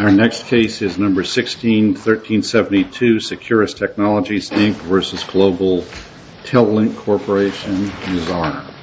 Our next case is number 16, 1372 Securus Technologies, Inc. v. Global Tel Link Corporation, and his is number 16, 1372 Securus Technologies, Inc. v. Global Tel Link Corporation.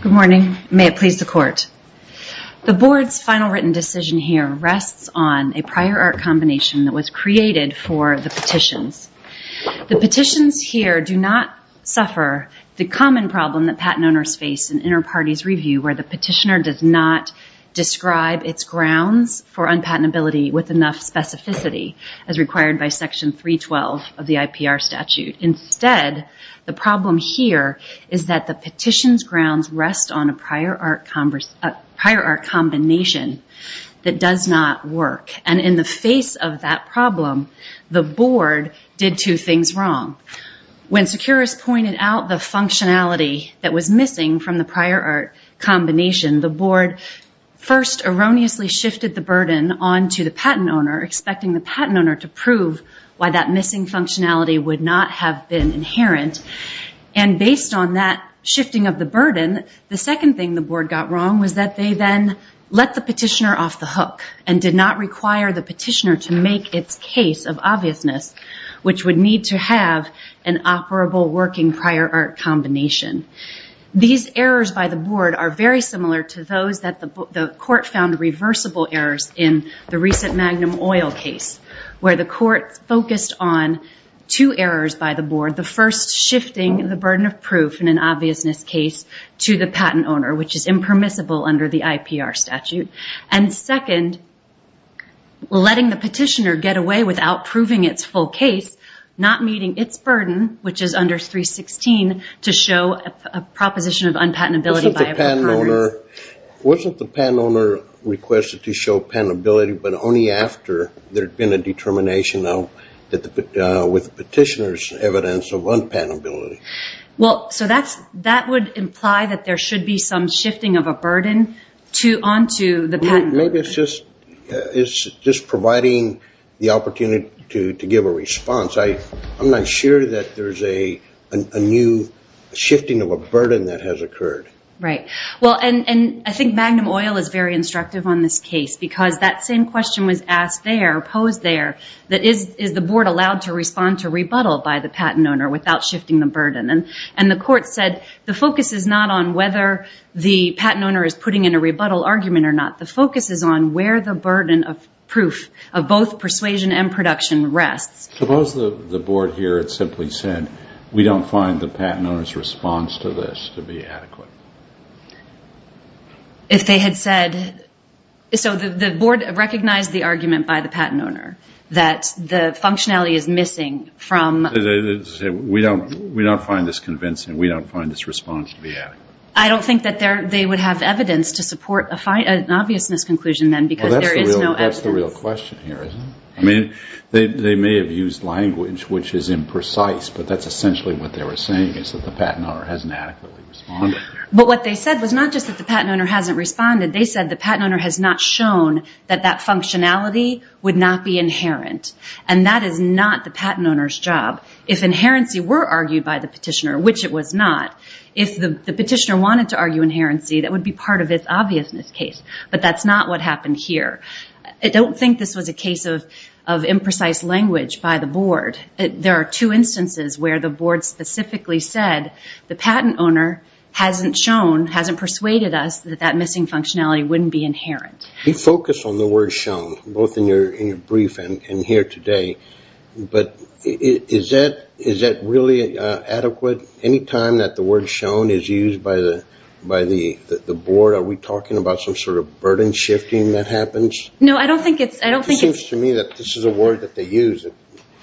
Good morning. May it please the Court. The Board's final written decision here rests on a prior art combination that was created for the petitions. The petitions here do not suffer the common problem that patent owners face in inter-parties review, where the petitioner does not describe its grounds for unpatentability with enough specificity as required by Section 312 of the IPR statute. Instead, the problem here is that the petition's grounds rest on a prior art combination that does not work. And in the face of that problem, the Board did two things wrong. When Securus pointed out the functionality that was missing from the prior art combination, the Board first erroneously shifted the burden onto the patent owner, expecting the patent owner to prove why that missing functionality would not have been inherent. And based on that shifting of the burden, the second thing the Board got wrong was that they then let the petitioner off the hook and did not require the petitioner to make its case of obviousness, which would need to have an operable working prior art combination. These errors by the Board are very similar to those that the Court found reversible errors in the recent Magnum Oil case, where the Court focused on two errors by the Board. The first shifting the burden of proof in an obviousness case to the patent owner, which is impermissible under the IPR statute. And second, letting the petitioner get away without proving its full case, not meeting its burden, which is under 316, to show a proposition of unpatentability by a patent owner. Wasn't the patent owner requested to show patentability, but only after there had been a determination with the petitioner's evidence of unpatentability? That would imply that there should be some shifting of a burden onto the patent owner. Maybe it's just providing the opportunity to give a response. I'm not sure that there's a new shifting of a burden that has occurred. I think Magnum Oil is very instructive on this case, because that same question was posed there. Is the Board allowed to respond to rebuttal by the patent owner without shifting the burden? The Court said the focus is not on whether the patent owner is putting in a rebuttal argument or not. The focus is on where the burden of proof of both persuasion and production rests. Suppose the Board here had simply said, we don't find the patent owner's response to this to be adequate. If they had said... So the Board recognized the argument by the patent owner that the functionality is missing from... We don't find this convincing. We don't find this response to be adequate. I don't think that they would have evidence to support an obvious misconclusion then, because there is no evidence. That's the real question here, isn't it? I mean, they may have used language which is imprecise, but that's essentially what they were saying, is that the patent owner hasn't adequately responded. But what they said was not just that the patent owner hasn't responded. They said the patent owner has not shown that that functionality would not be inherent. And that is not the patent owner's job. If inherency were argued by the petitioner, which it was not, if the petitioner wanted to argue inherency, that would be part of its obviousness case. But that's not what happened here. I don't think this was a case of imprecise language by the Board. There are two instances where the Board specifically said the patent owner hasn't shown, hasn't persuaded us that that missing functionality wouldn't be inherent. You focus on the word shown, both in your brief and here today, but is that really adequate? Any time that the word shown is used by the Board, are we talking about some sort of burden shifting that happens? No, I don't think it's... It seems to me that this is a word that they use.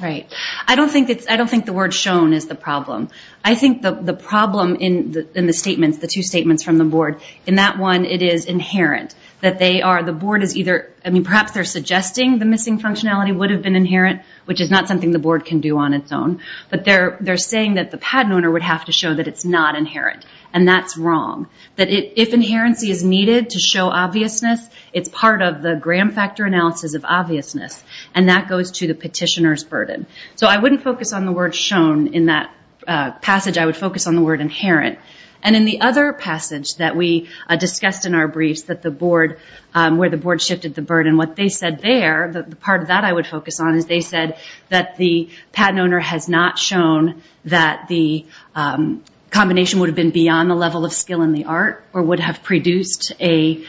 Right. I don't think the word shown is the problem. I think the problem in the statements, the two statements from the Board, in that one it is inherent, that they are, the Board is either, perhaps they're suggesting the missing functionality would have been inherent, which is not something the Board can do on its own. But they're saying that the patent owner would have to show that it's not inherent. And that's wrong. That if inherency is needed to show obviousness, it's part of the gram factor analysis of obviousness. And that goes to the petitioner's burden. So I wouldn't focus on the word shown in that passage. I would focus on the word inherent. And in the other passage that we discussed in our briefs, where the Board shifted the burden, and what they said there, the part of that I would focus on, is they said that the patent owner has not shown that the combination would have been beyond the level of skill in the art, or would have produced a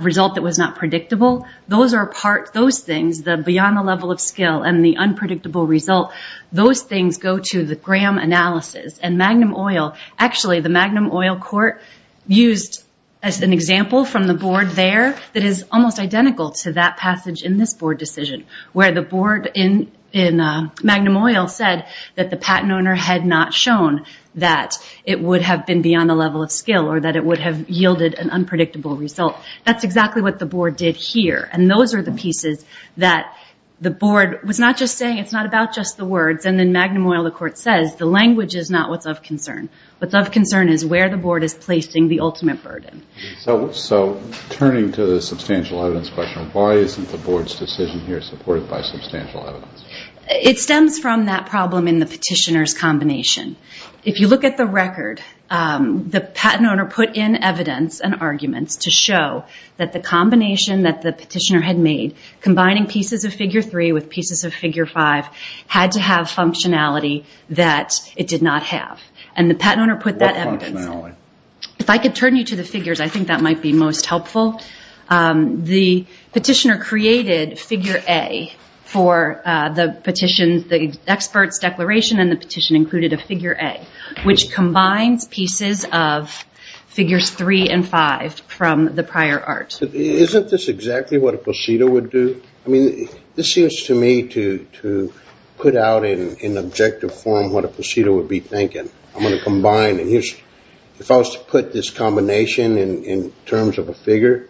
result that was not predictable. Those are part, those things, the beyond the level of skill and the unpredictable result, those things go to the gram analysis. And magnum oil, actually the magnum oil court used as an example from the Board there, that is almost identical to that passage in this Board decision, where the Board in magnum oil said that the patent owner had not shown that it would have been beyond the level of skill, or that it would have yielded an unpredictable result. That's exactly what the Board did here. And those are the pieces that the Board was not just saying, it's not about just the words. And in magnum oil the court says, the language is not what's of concern. What's of concern is where the Board is placing the ultimate burden. So turning to the substantial evidence question, why isn't the Board's decision here supported by substantial evidence? It stems from that problem in the petitioner's combination. If you look at the record, the patent owner put in evidence and arguments to show that the combination that the petitioner had made, combining pieces of Figure 3 with pieces of Figure 5, had to have functionality that it did not have. And the patent owner put that evidence. What functionality? If I could turn you to the figures, I think that might be most helpful. The petitioner created Figure A for the expert's declaration, and the petition included a Figure A, which combines pieces of Figures 3 and 5 from the prior art. Isn't this exactly what a plecito would do? I mean, this seems to me to put out in objective form what a plecito would be thinking. If I was to put this combination in terms of a figure,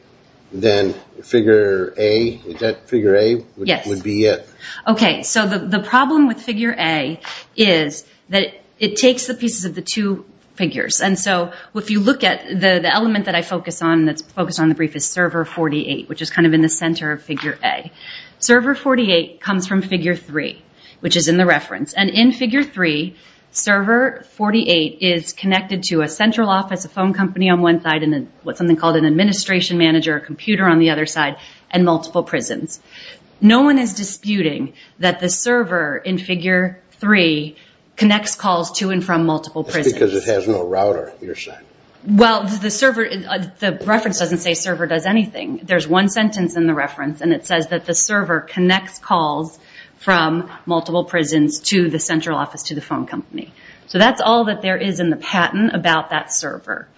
then Figure A would be it. Okay. So the problem with Figure A is that it takes the pieces of the two figures. And so if you look at the element that I focus on that's focused on the brief is Server 48, which is kind of in the center of Figure A. Server 48 comes from Figure 3, which is in the reference. And in Figure 3, Server 48 is connected to a central office, a phone company on one side, and what's something called an administration manager, a computer on the other side, and multiple prisons. No one is disputing that the server in Figure 3 connects calls to and from multiple prisons. That's because it has no router, you're saying. Well, the reference doesn't say server does anything. There's one sentence in the reference, and it says that the server connects calls from multiple prisons to the central office, to the phone company. So that's all that there is in the patent about that server.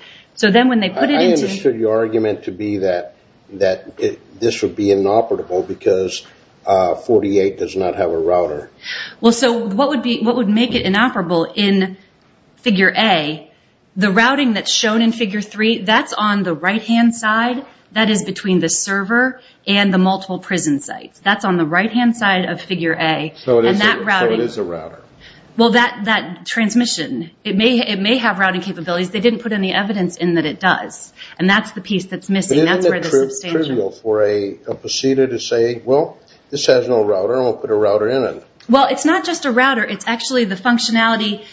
I understood your argument to be that this would be inoperable because 48 does not have a router. Well, so what would make it inoperable in Figure A? The routing that's shown in Figure 3, that's on the right-hand side. That is between the server and the multiple prison sites. That's on the right-hand side of Figure A. So it is a router. Well, that transmission, it may have routing capabilities. They didn't put any evidence in that it does. And that's the piece that's missing. Isn't it trivial for a procedure to say, well, this has no router, I'll put a router in it. Well, it's not just a router. It's actually the functionality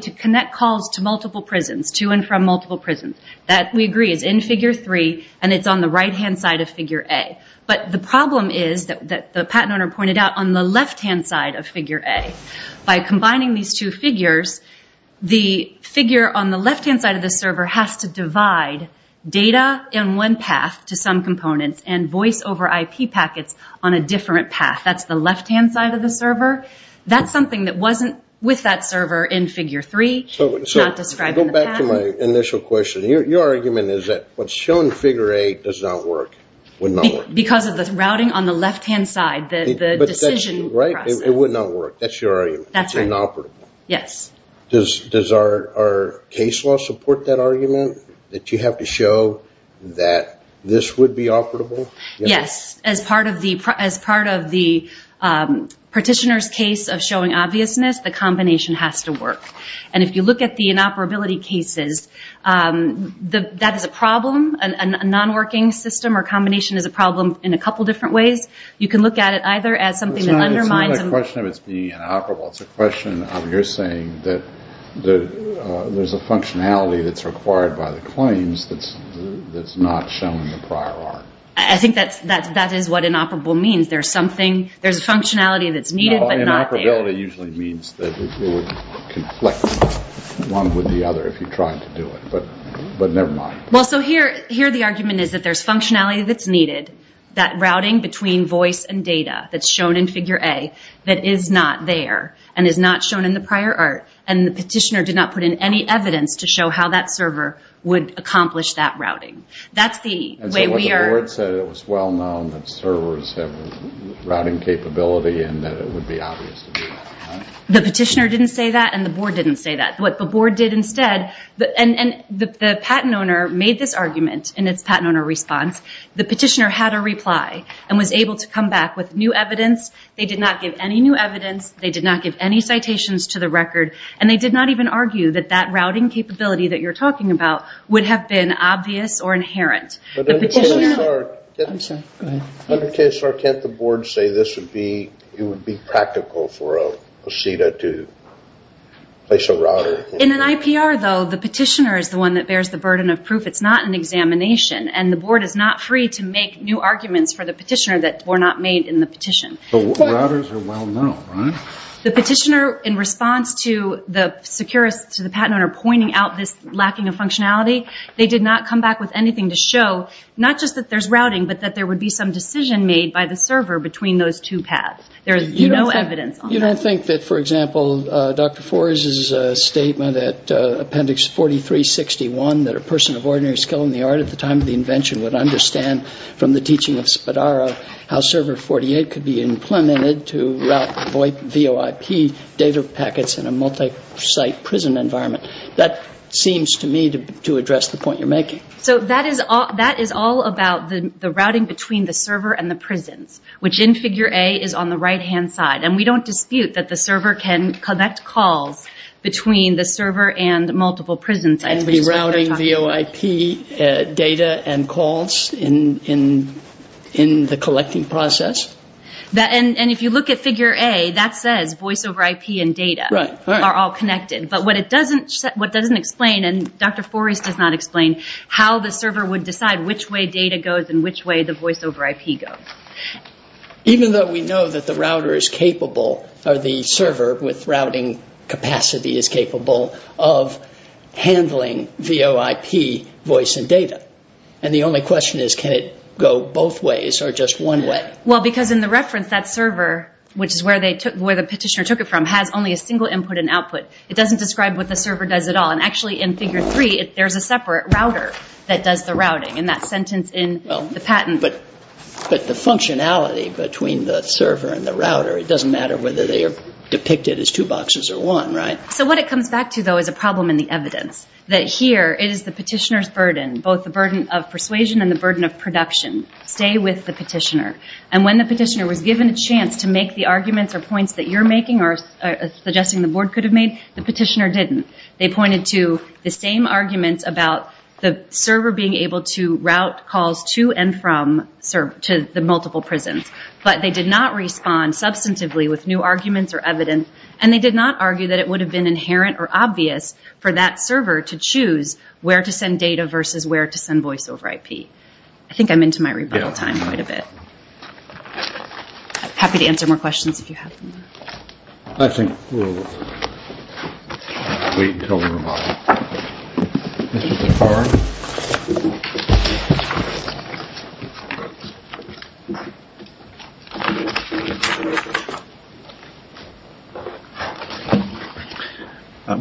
to connect calls to multiple prisons, to and from multiple prisons. That, we agree, is in Figure 3, and it's on the right-hand side of Figure A. But the problem is that the patent owner pointed out on the left-hand side of Figure A, by combining these two figures, the figure on the left-hand side of the server has to divide data in one path to some components and voice over IP packets on a different path. That's the left-hand side of the server. That's something that wasn't with that server in Figure 3, not described in the patent. Go back to my initial question. Your argument is that what's shown in Figure A does not work, would not work. Because of the routing on the left-hand side, the decision process. Right, it would not work. That's your argument. That's right. It's inoperable. Yes. Does our case law support that argument, that you have to show that this would be operable? Yes. As part of the partitioner's case of showing obviousness, the combination has to work. And if you look at the inoperability cases, that is a problem. A non-working system or combination is a problem in a couple different ways. You can look at it either as something that undermines... It's not a question of it being inoperable. It's a question of you're saying that there's a functionality that's required by the claims that's not shown in the prior art. I think that is what inoperable means. There's a functionality that's needed but not there. Inoperability usually means that it would conflict one with the other if you tried to do it. But never mind. Here the argument is that there's functionality that's needed. That routing between voice and data that's shown in Figure A that is not there and is not shown in the prior art. And the partitioner did not put in any evidence to show how that server would accomplish that routing. That's the way we are... And so what the board said, it was well known that servers have routing capability and that it would be obvious to do that. The petitioner didn't say that and the board didn't say that. What the board did instead... And the patent owner made this argument in its patent owner response. The petitioner had a reply and was able to come back with new evidence. They did not give any new evidence. They did not give any citations to the record. And they did not even argue that that routing capability that you're talking about would have been obvious or inherent. The petitioner... I'm sorry. Go ahead. Under KSR, can't the board say this would be practical for a POSITA to place a router? In an IPR, though, the petitioner is the one that bears the burden of proof. It's not an examination. And the board is not free to make new arguments for the petitioner that were not made in the petition. But routers are well known, right? The petitioner, in response to the patent owner pointing out this lacking of functionality, they did not come back with anything to show, not just that there's routing, but that there would be some decision made by the server between those two paths. There is no evidence on that. You don't think that, for example, Dr. Forres' statement at Appendix 4361, that a person of ordinary skill in the art at the time of the invention would understand from the teaching of Spadaro how Server 48 could be implemented to route VOIP data packets in a multi-site prison environment. That seems to me to address the point you're making. So that is all about the routing between the server and the prisons, which in Figure A is on the right-hand side. And we don't dispute that the server can connect calls between the server and multiple prison sites. And be routing VOIP data and calls in the collecting process? And if you look at Figure A, that says voice over IP and data are all connected. But what it doesn't explain, and Dr. Forres does not explain, how the server would decide which way data goes and which way the voice over IP goes. Even though we know that the router is capable, or the server with routing capacity is capable, of handling VOIP voice and data. And the only question is, can it go both ways or just one way? Well, because in the reference, that server, which is where the petitioner took it from, has only a single input and output. It doesn't describe what the server does at all. And actually in Figure 3, there's a separate router that does the routing in that sentence in the patent. But the functionality between the server and the router, it doesn't matter whether they are depicted as two boxes or one, right? So what it comes back to, though, is a problem in the evidence. That here is the petitioner's burden. Both the burden of persuasion and the burden of production. Stay with the petitioner. And when the petitioner was given a chance to make the arguments or points that you're making, or suggesting the board could have made, the petitioner didn't. They pointed to the same arguments about the server being able to route calls to and from the multiple prisons. But they did not respond substantively with new arguments or evidence. And they did not argue that it would have been inherent or obvious for that server to choose where to send data versus where to send voice over IP. I think I'm into my rebuttal time quite a bit. Happy to answer more questions if you have them. I think we'll wait until the rebuttal. Mr. Picard.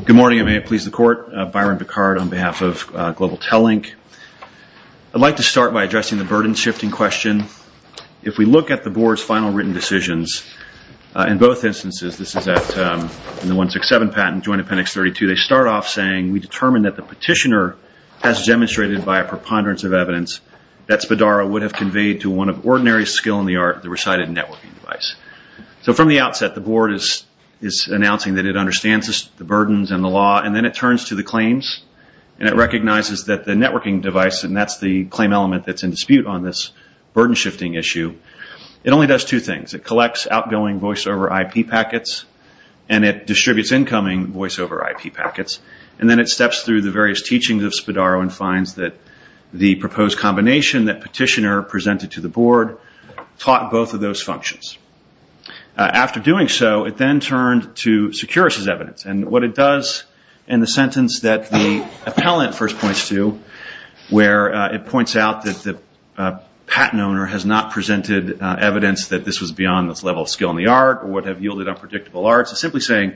Good morning, and may it please the Court. Byron Picard on behalf of Global Telink. I'd like to start by addressing the burden shifting question. If we look at the board's final written decisions, in both instances, this is in the 167 patent joint appendix 32, they start off saying we determined that the petitioner has demonstrated by a preponderance of evidence that Spadaro would have conveyed to one of ordinary skill in the art, the recited networking device. So from the outset, the board is announcing that it understands the burdens and the law, and then it turns to the claims, and it recognizes that the networking device, and that's the claim element that's in dispute on this burden shifting issue. It only does two things. It collects outgoing voice over IP packets, and it distributes incoming voice over IP packets, and then it steps through the various teachings of Spadaro and finds that the proposed combination that petitioner presented to the board taught both of those functions. What it does in the sentence that the appellant first points to, where it points out that the patent owner has not presented evidence that this was beyond this level of skill in the art, or would have yielded unpredictable arts, is simply saying,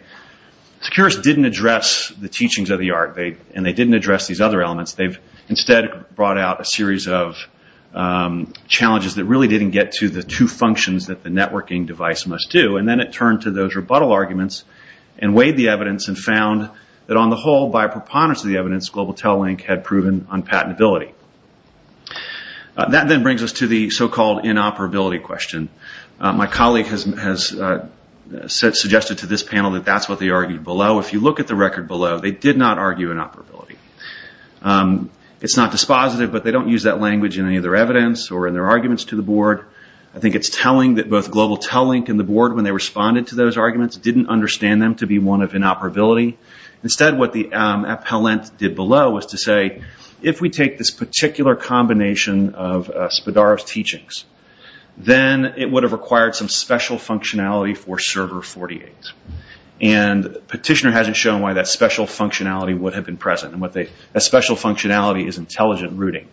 Securus didn't address the teachings of the art, and they didn't address these other elements. They've instead brought out a series of challenges that really didn't get to the two functions that the networking device must do. Then it turned to those rebuttal arguments, and weighed the evidence, and found that on the whole, by preponderance of the evidence, Global Tel-Link had proven unpatentability. That then brings us to the so-called inoperability question. My colleague has suggested to this panel that that's what they argued below. If you look at the record below, they did not argue inoperability. It's not dispositive, but they don't use that language in any of their evidence or in their arguments to the board. I think it's telling that both Global Tel-Link and the board, when they responded to those arguments, didn't understand them to be one of inoperability. Instead, what the appellant did below was to say, if we take this particular combination of Spadaro's teachings, then it would have required some special functionality for Server 48. Petitioner hasn't shown why that special functionality would have been present. That special functionality is intelligent routing.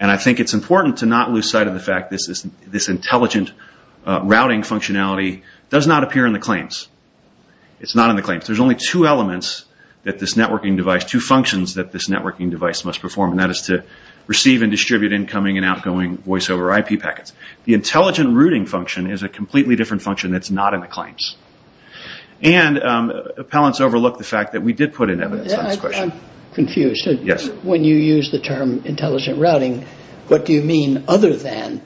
I think it's important to not lose sight of the fact that this intelligent routing functionality does not appear in the claims. It's not in the claims. There's only two functions that this networking device must perform, and that is to receive and distribute incoming and outgoing voiceover IP packets. The intelligent routing function is a completely different function that's not in the claims. Appellants overlooked the fact that we did put in evidence on this question. I'm confused. When you use the term intelligent routing, what do you mean other than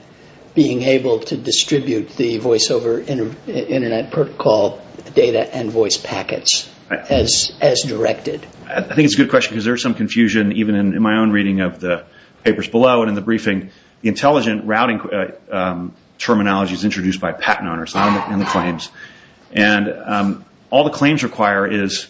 being able to distribute the voiceover internet protocol data and voice packets as directed? I think it's a good question because there's some confusion, even in my own reading of the papers below and in the briefing. Intelligent routing terminology is introduced by patent owners, not in the claims. All the claims require is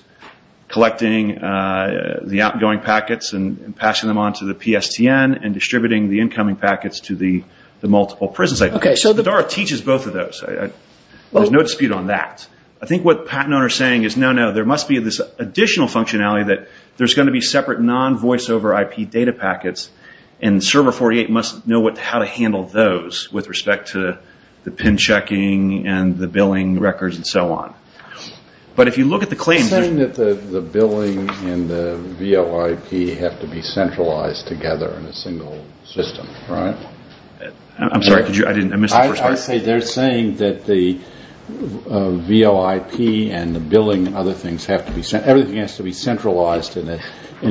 collecting the outgoing packets and passing them on to the PSTN and distributing the incoming packets to the multiple prisons. DARA teaches both of those. There's no dispute on that. I think what patent owners are saying is, no, no, there must be this additional functionality that there's going to be separate non-voiceover IP data packets, and Server 48 must know how to handle those with respect to the pin checking and the billing records and so on. But if you look at the claims... You're saying that the billing and the VOIP have to be centralized together in a single system, right? I'm sorry, I missed the first part. They're saying that the VOIP and the billing and other things have to be centralized in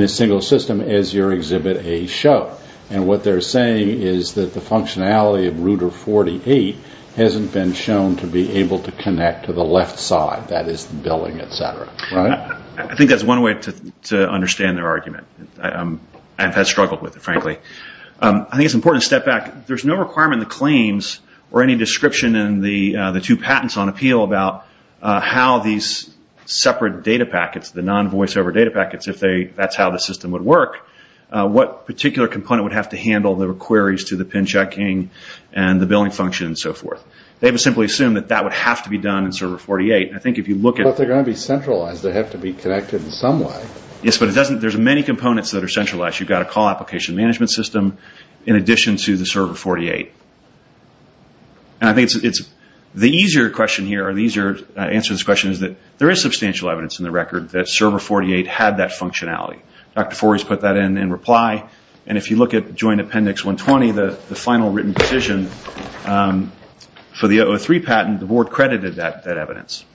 a single system as your Exhibit A showed. What they're saying is that the functionality of Router 48 hasn't been shown to be able to connect to the left side, that is, the billing, etc. I think that's one way to understand their argument. I've struggled with it, frankly. I think it's important to step back. There's no requirement in the claims or any description in the two patents on appeal about how these separate data packets, the non-voiceover data packets, if that's how the system would work, what particular component would have to handle the queries to the pin checking and the billing function and so forth. They would simply assume that that would have to be done in Server 48. I think if you look at... But they're going to be centralized. They have to be connected in some way. Yes, but there's many components that are centralized. You've got a call application management system in addition to the Server 48. I think the easier answer to this question is that there is substantial evidence in the record that Server 48 had that functionality. Dr. Forres put that in in reply. If you look at Joint Appendix 120, the final written decision for the 003 patent, the board credited that evidence.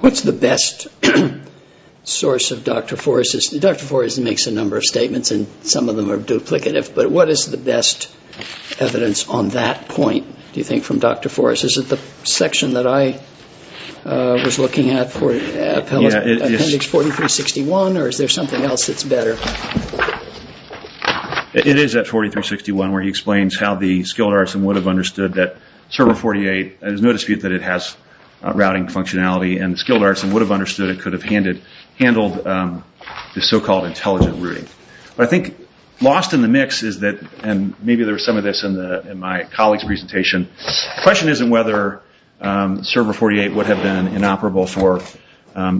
What's the best source of Dr. Forres's... Dr. Forres makes a number of statements, and some of them are duplicative. But what is the best evidence on that point, do you think, from Dr. Forres? Is it the section that I was looking at for Appendix 4361, or is there something else that's better? It is at 4361 where he explains how the skilled artisan would have understood that Server 48, there's no dispute that it has routing functionality, and the skilled artisan would have understood and could have handled the so-called intelligent routing. I think lost in the mix is that, and maybe there was some of this in my colleague's presentation, the question isn't whether Server 48 would have been inoperable for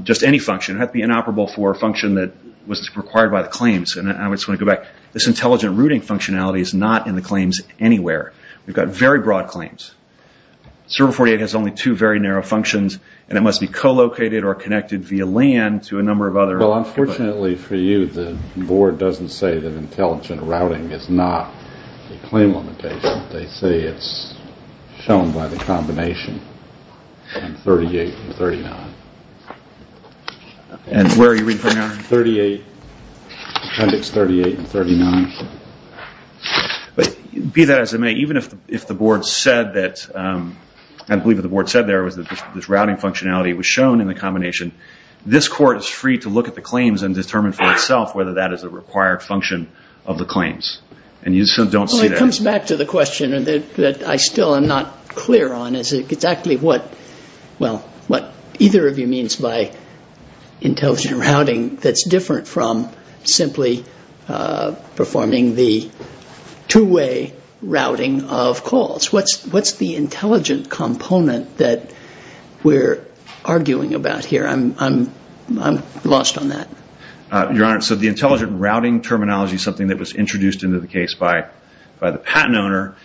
just any function. It would have to be inoperable for a function that was required by the claims. I just want to go back. This intelligent routing functionality is not in the claims anywhere. We've got very broad claims. Server 48 has only two very narrow functions, and it must be co-located or connected via LAN to a number of other... Well, unfortunately for you, the board doesn't say that intelligent routing is not a claim limitation. They say it's shown by the combination in 38 and 39. And where are you reading from there? Appendix 38 and 39. Be that as it may, even if the board said that, I believe what the board said there was that this routing functionality was shown in the combination, this court is free to look at the claims and determine for itself whether that is a required function of the claims. And you still don't see that. Well, it comes back to the question that I still am not clear on is exactly what either of you means by intelligent routing that's different from simply performing the two-way routing of calls. What's the intelligent component that we're arguing about here? I'm lost on that. Your Honor, so the intelligent routing terminology is something that was introduced into the case by the patent owner.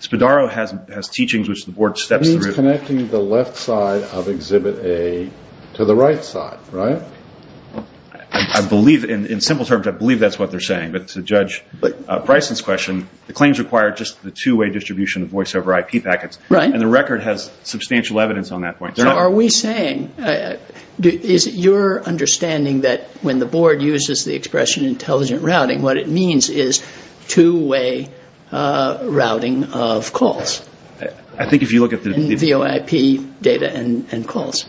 Spadaro has teachings which the board steps through. You're connecting the left side of Exhibit A to the right side, right? I believe, in simple terms, I believe that's what they're saying. But to Judge Bryson's question, the claims require just the two-way distribution of voice-over IP packets. Right. And the record has substantial evidence on that point. Are we saying, is your understanding that when the board uses the expression intelligent routing, what it means is two-way routing of calls? I think if you look at the... VOIP data and calls.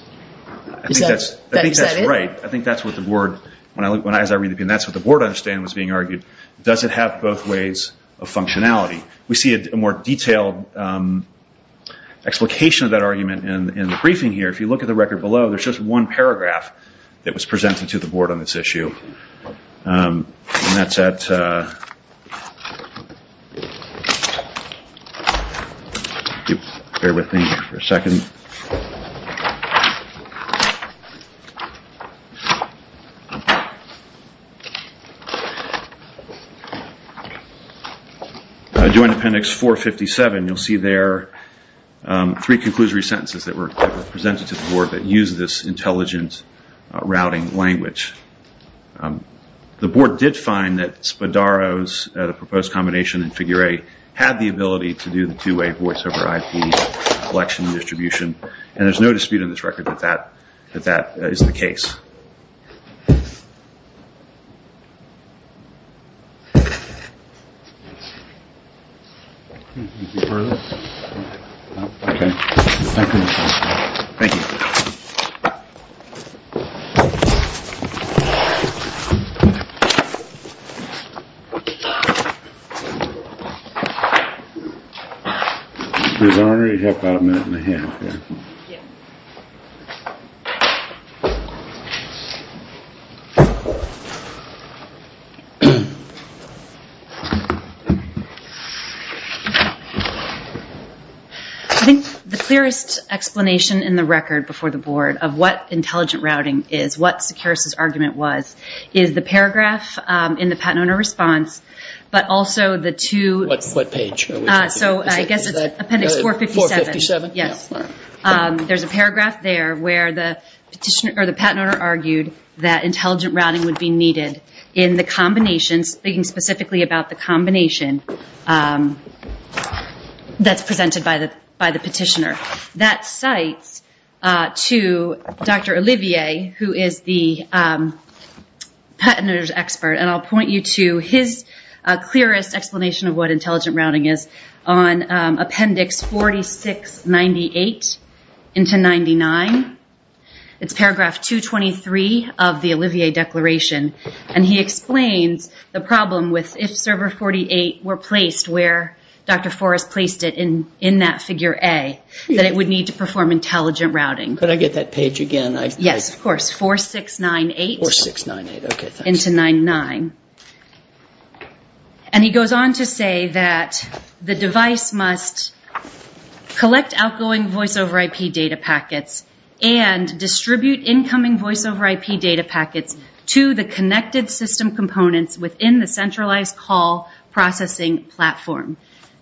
Is that it? I think that's right. I think that's what the board, as I read the opinion, that's what the board, I understand, was being argued. Does it have both ways of functionality? We see a more detailed explication of that argument in the briefing here. If you look at the record below, there's just one paragraph that was presented to the board on this issue. And that's at... Bear with me here for a second. Joint Appendix 457, you'll see there three conclusory sentences that were presented to the board that use this intelligent routing language. The board did find that Spadaro's proposed combination in figure A had the ability to do the two-way voice-over IP collection distribution. And there's no dispute in this record that that is the case. Thank you. We've already got about a minute and a half here. I think the clearest explanation in the record before the board of what intelligent routing is, what Sakaris' argument was, is the paragraph in the Patent Owner Response, but also the two... What page? So I guess it's Appendix 457. 457? Yes. There's a paragraph there where the Patent Owner argued that intelligent routing would be needed in the combination, speaking specifically about the combination that's presented by the petitioner. That cites to Dr. Olivier, who is the Patent Owner's expert, and I'll point you to his clearest explanation of what intelligent routing is on Appendix 4698 into 99. It's paragraph 223 of the Olivier Declaration. And he explains the problem with if server 48 were placed where Dr. Forrest placed it in that figure A, that it would need to perform intelligent routing. Could I get that page again? Yes, of course. 4698, okay, thanks. Into 99. And he goes on to say that the device must collect outgoing Voice over IP data packets and distribute incoming Voice over IP data packets to the connected system components within the centralized call processing platform.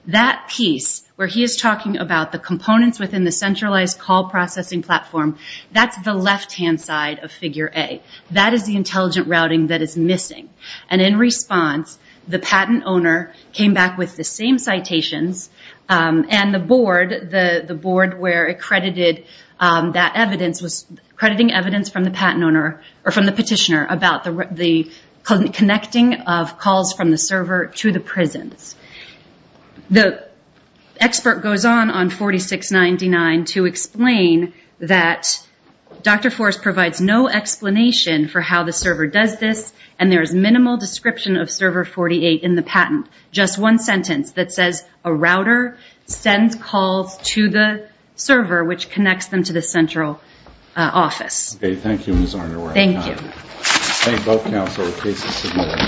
That piece where he is talking about the components within the centralized call processing platform, that's the left-hand side of figure A. That is the intelligent routing that is missing. And in response, the Patent Owner came back with the same citations and the board where accredited that evidence was accrediting evidence from the Petitioner about the connecting of calls from the server to the prisons. The expert goes on on 4699 to explain that Dr. Forrest provides no explanation for how the server does this, and there is minimal description of server 48 in the patent. Just one sentence that says a router sends calls to the server, which connects them to the central office. Okay, thank you, Ms. Underwood. Thank you. Thank you both, counsel. Case is submitted.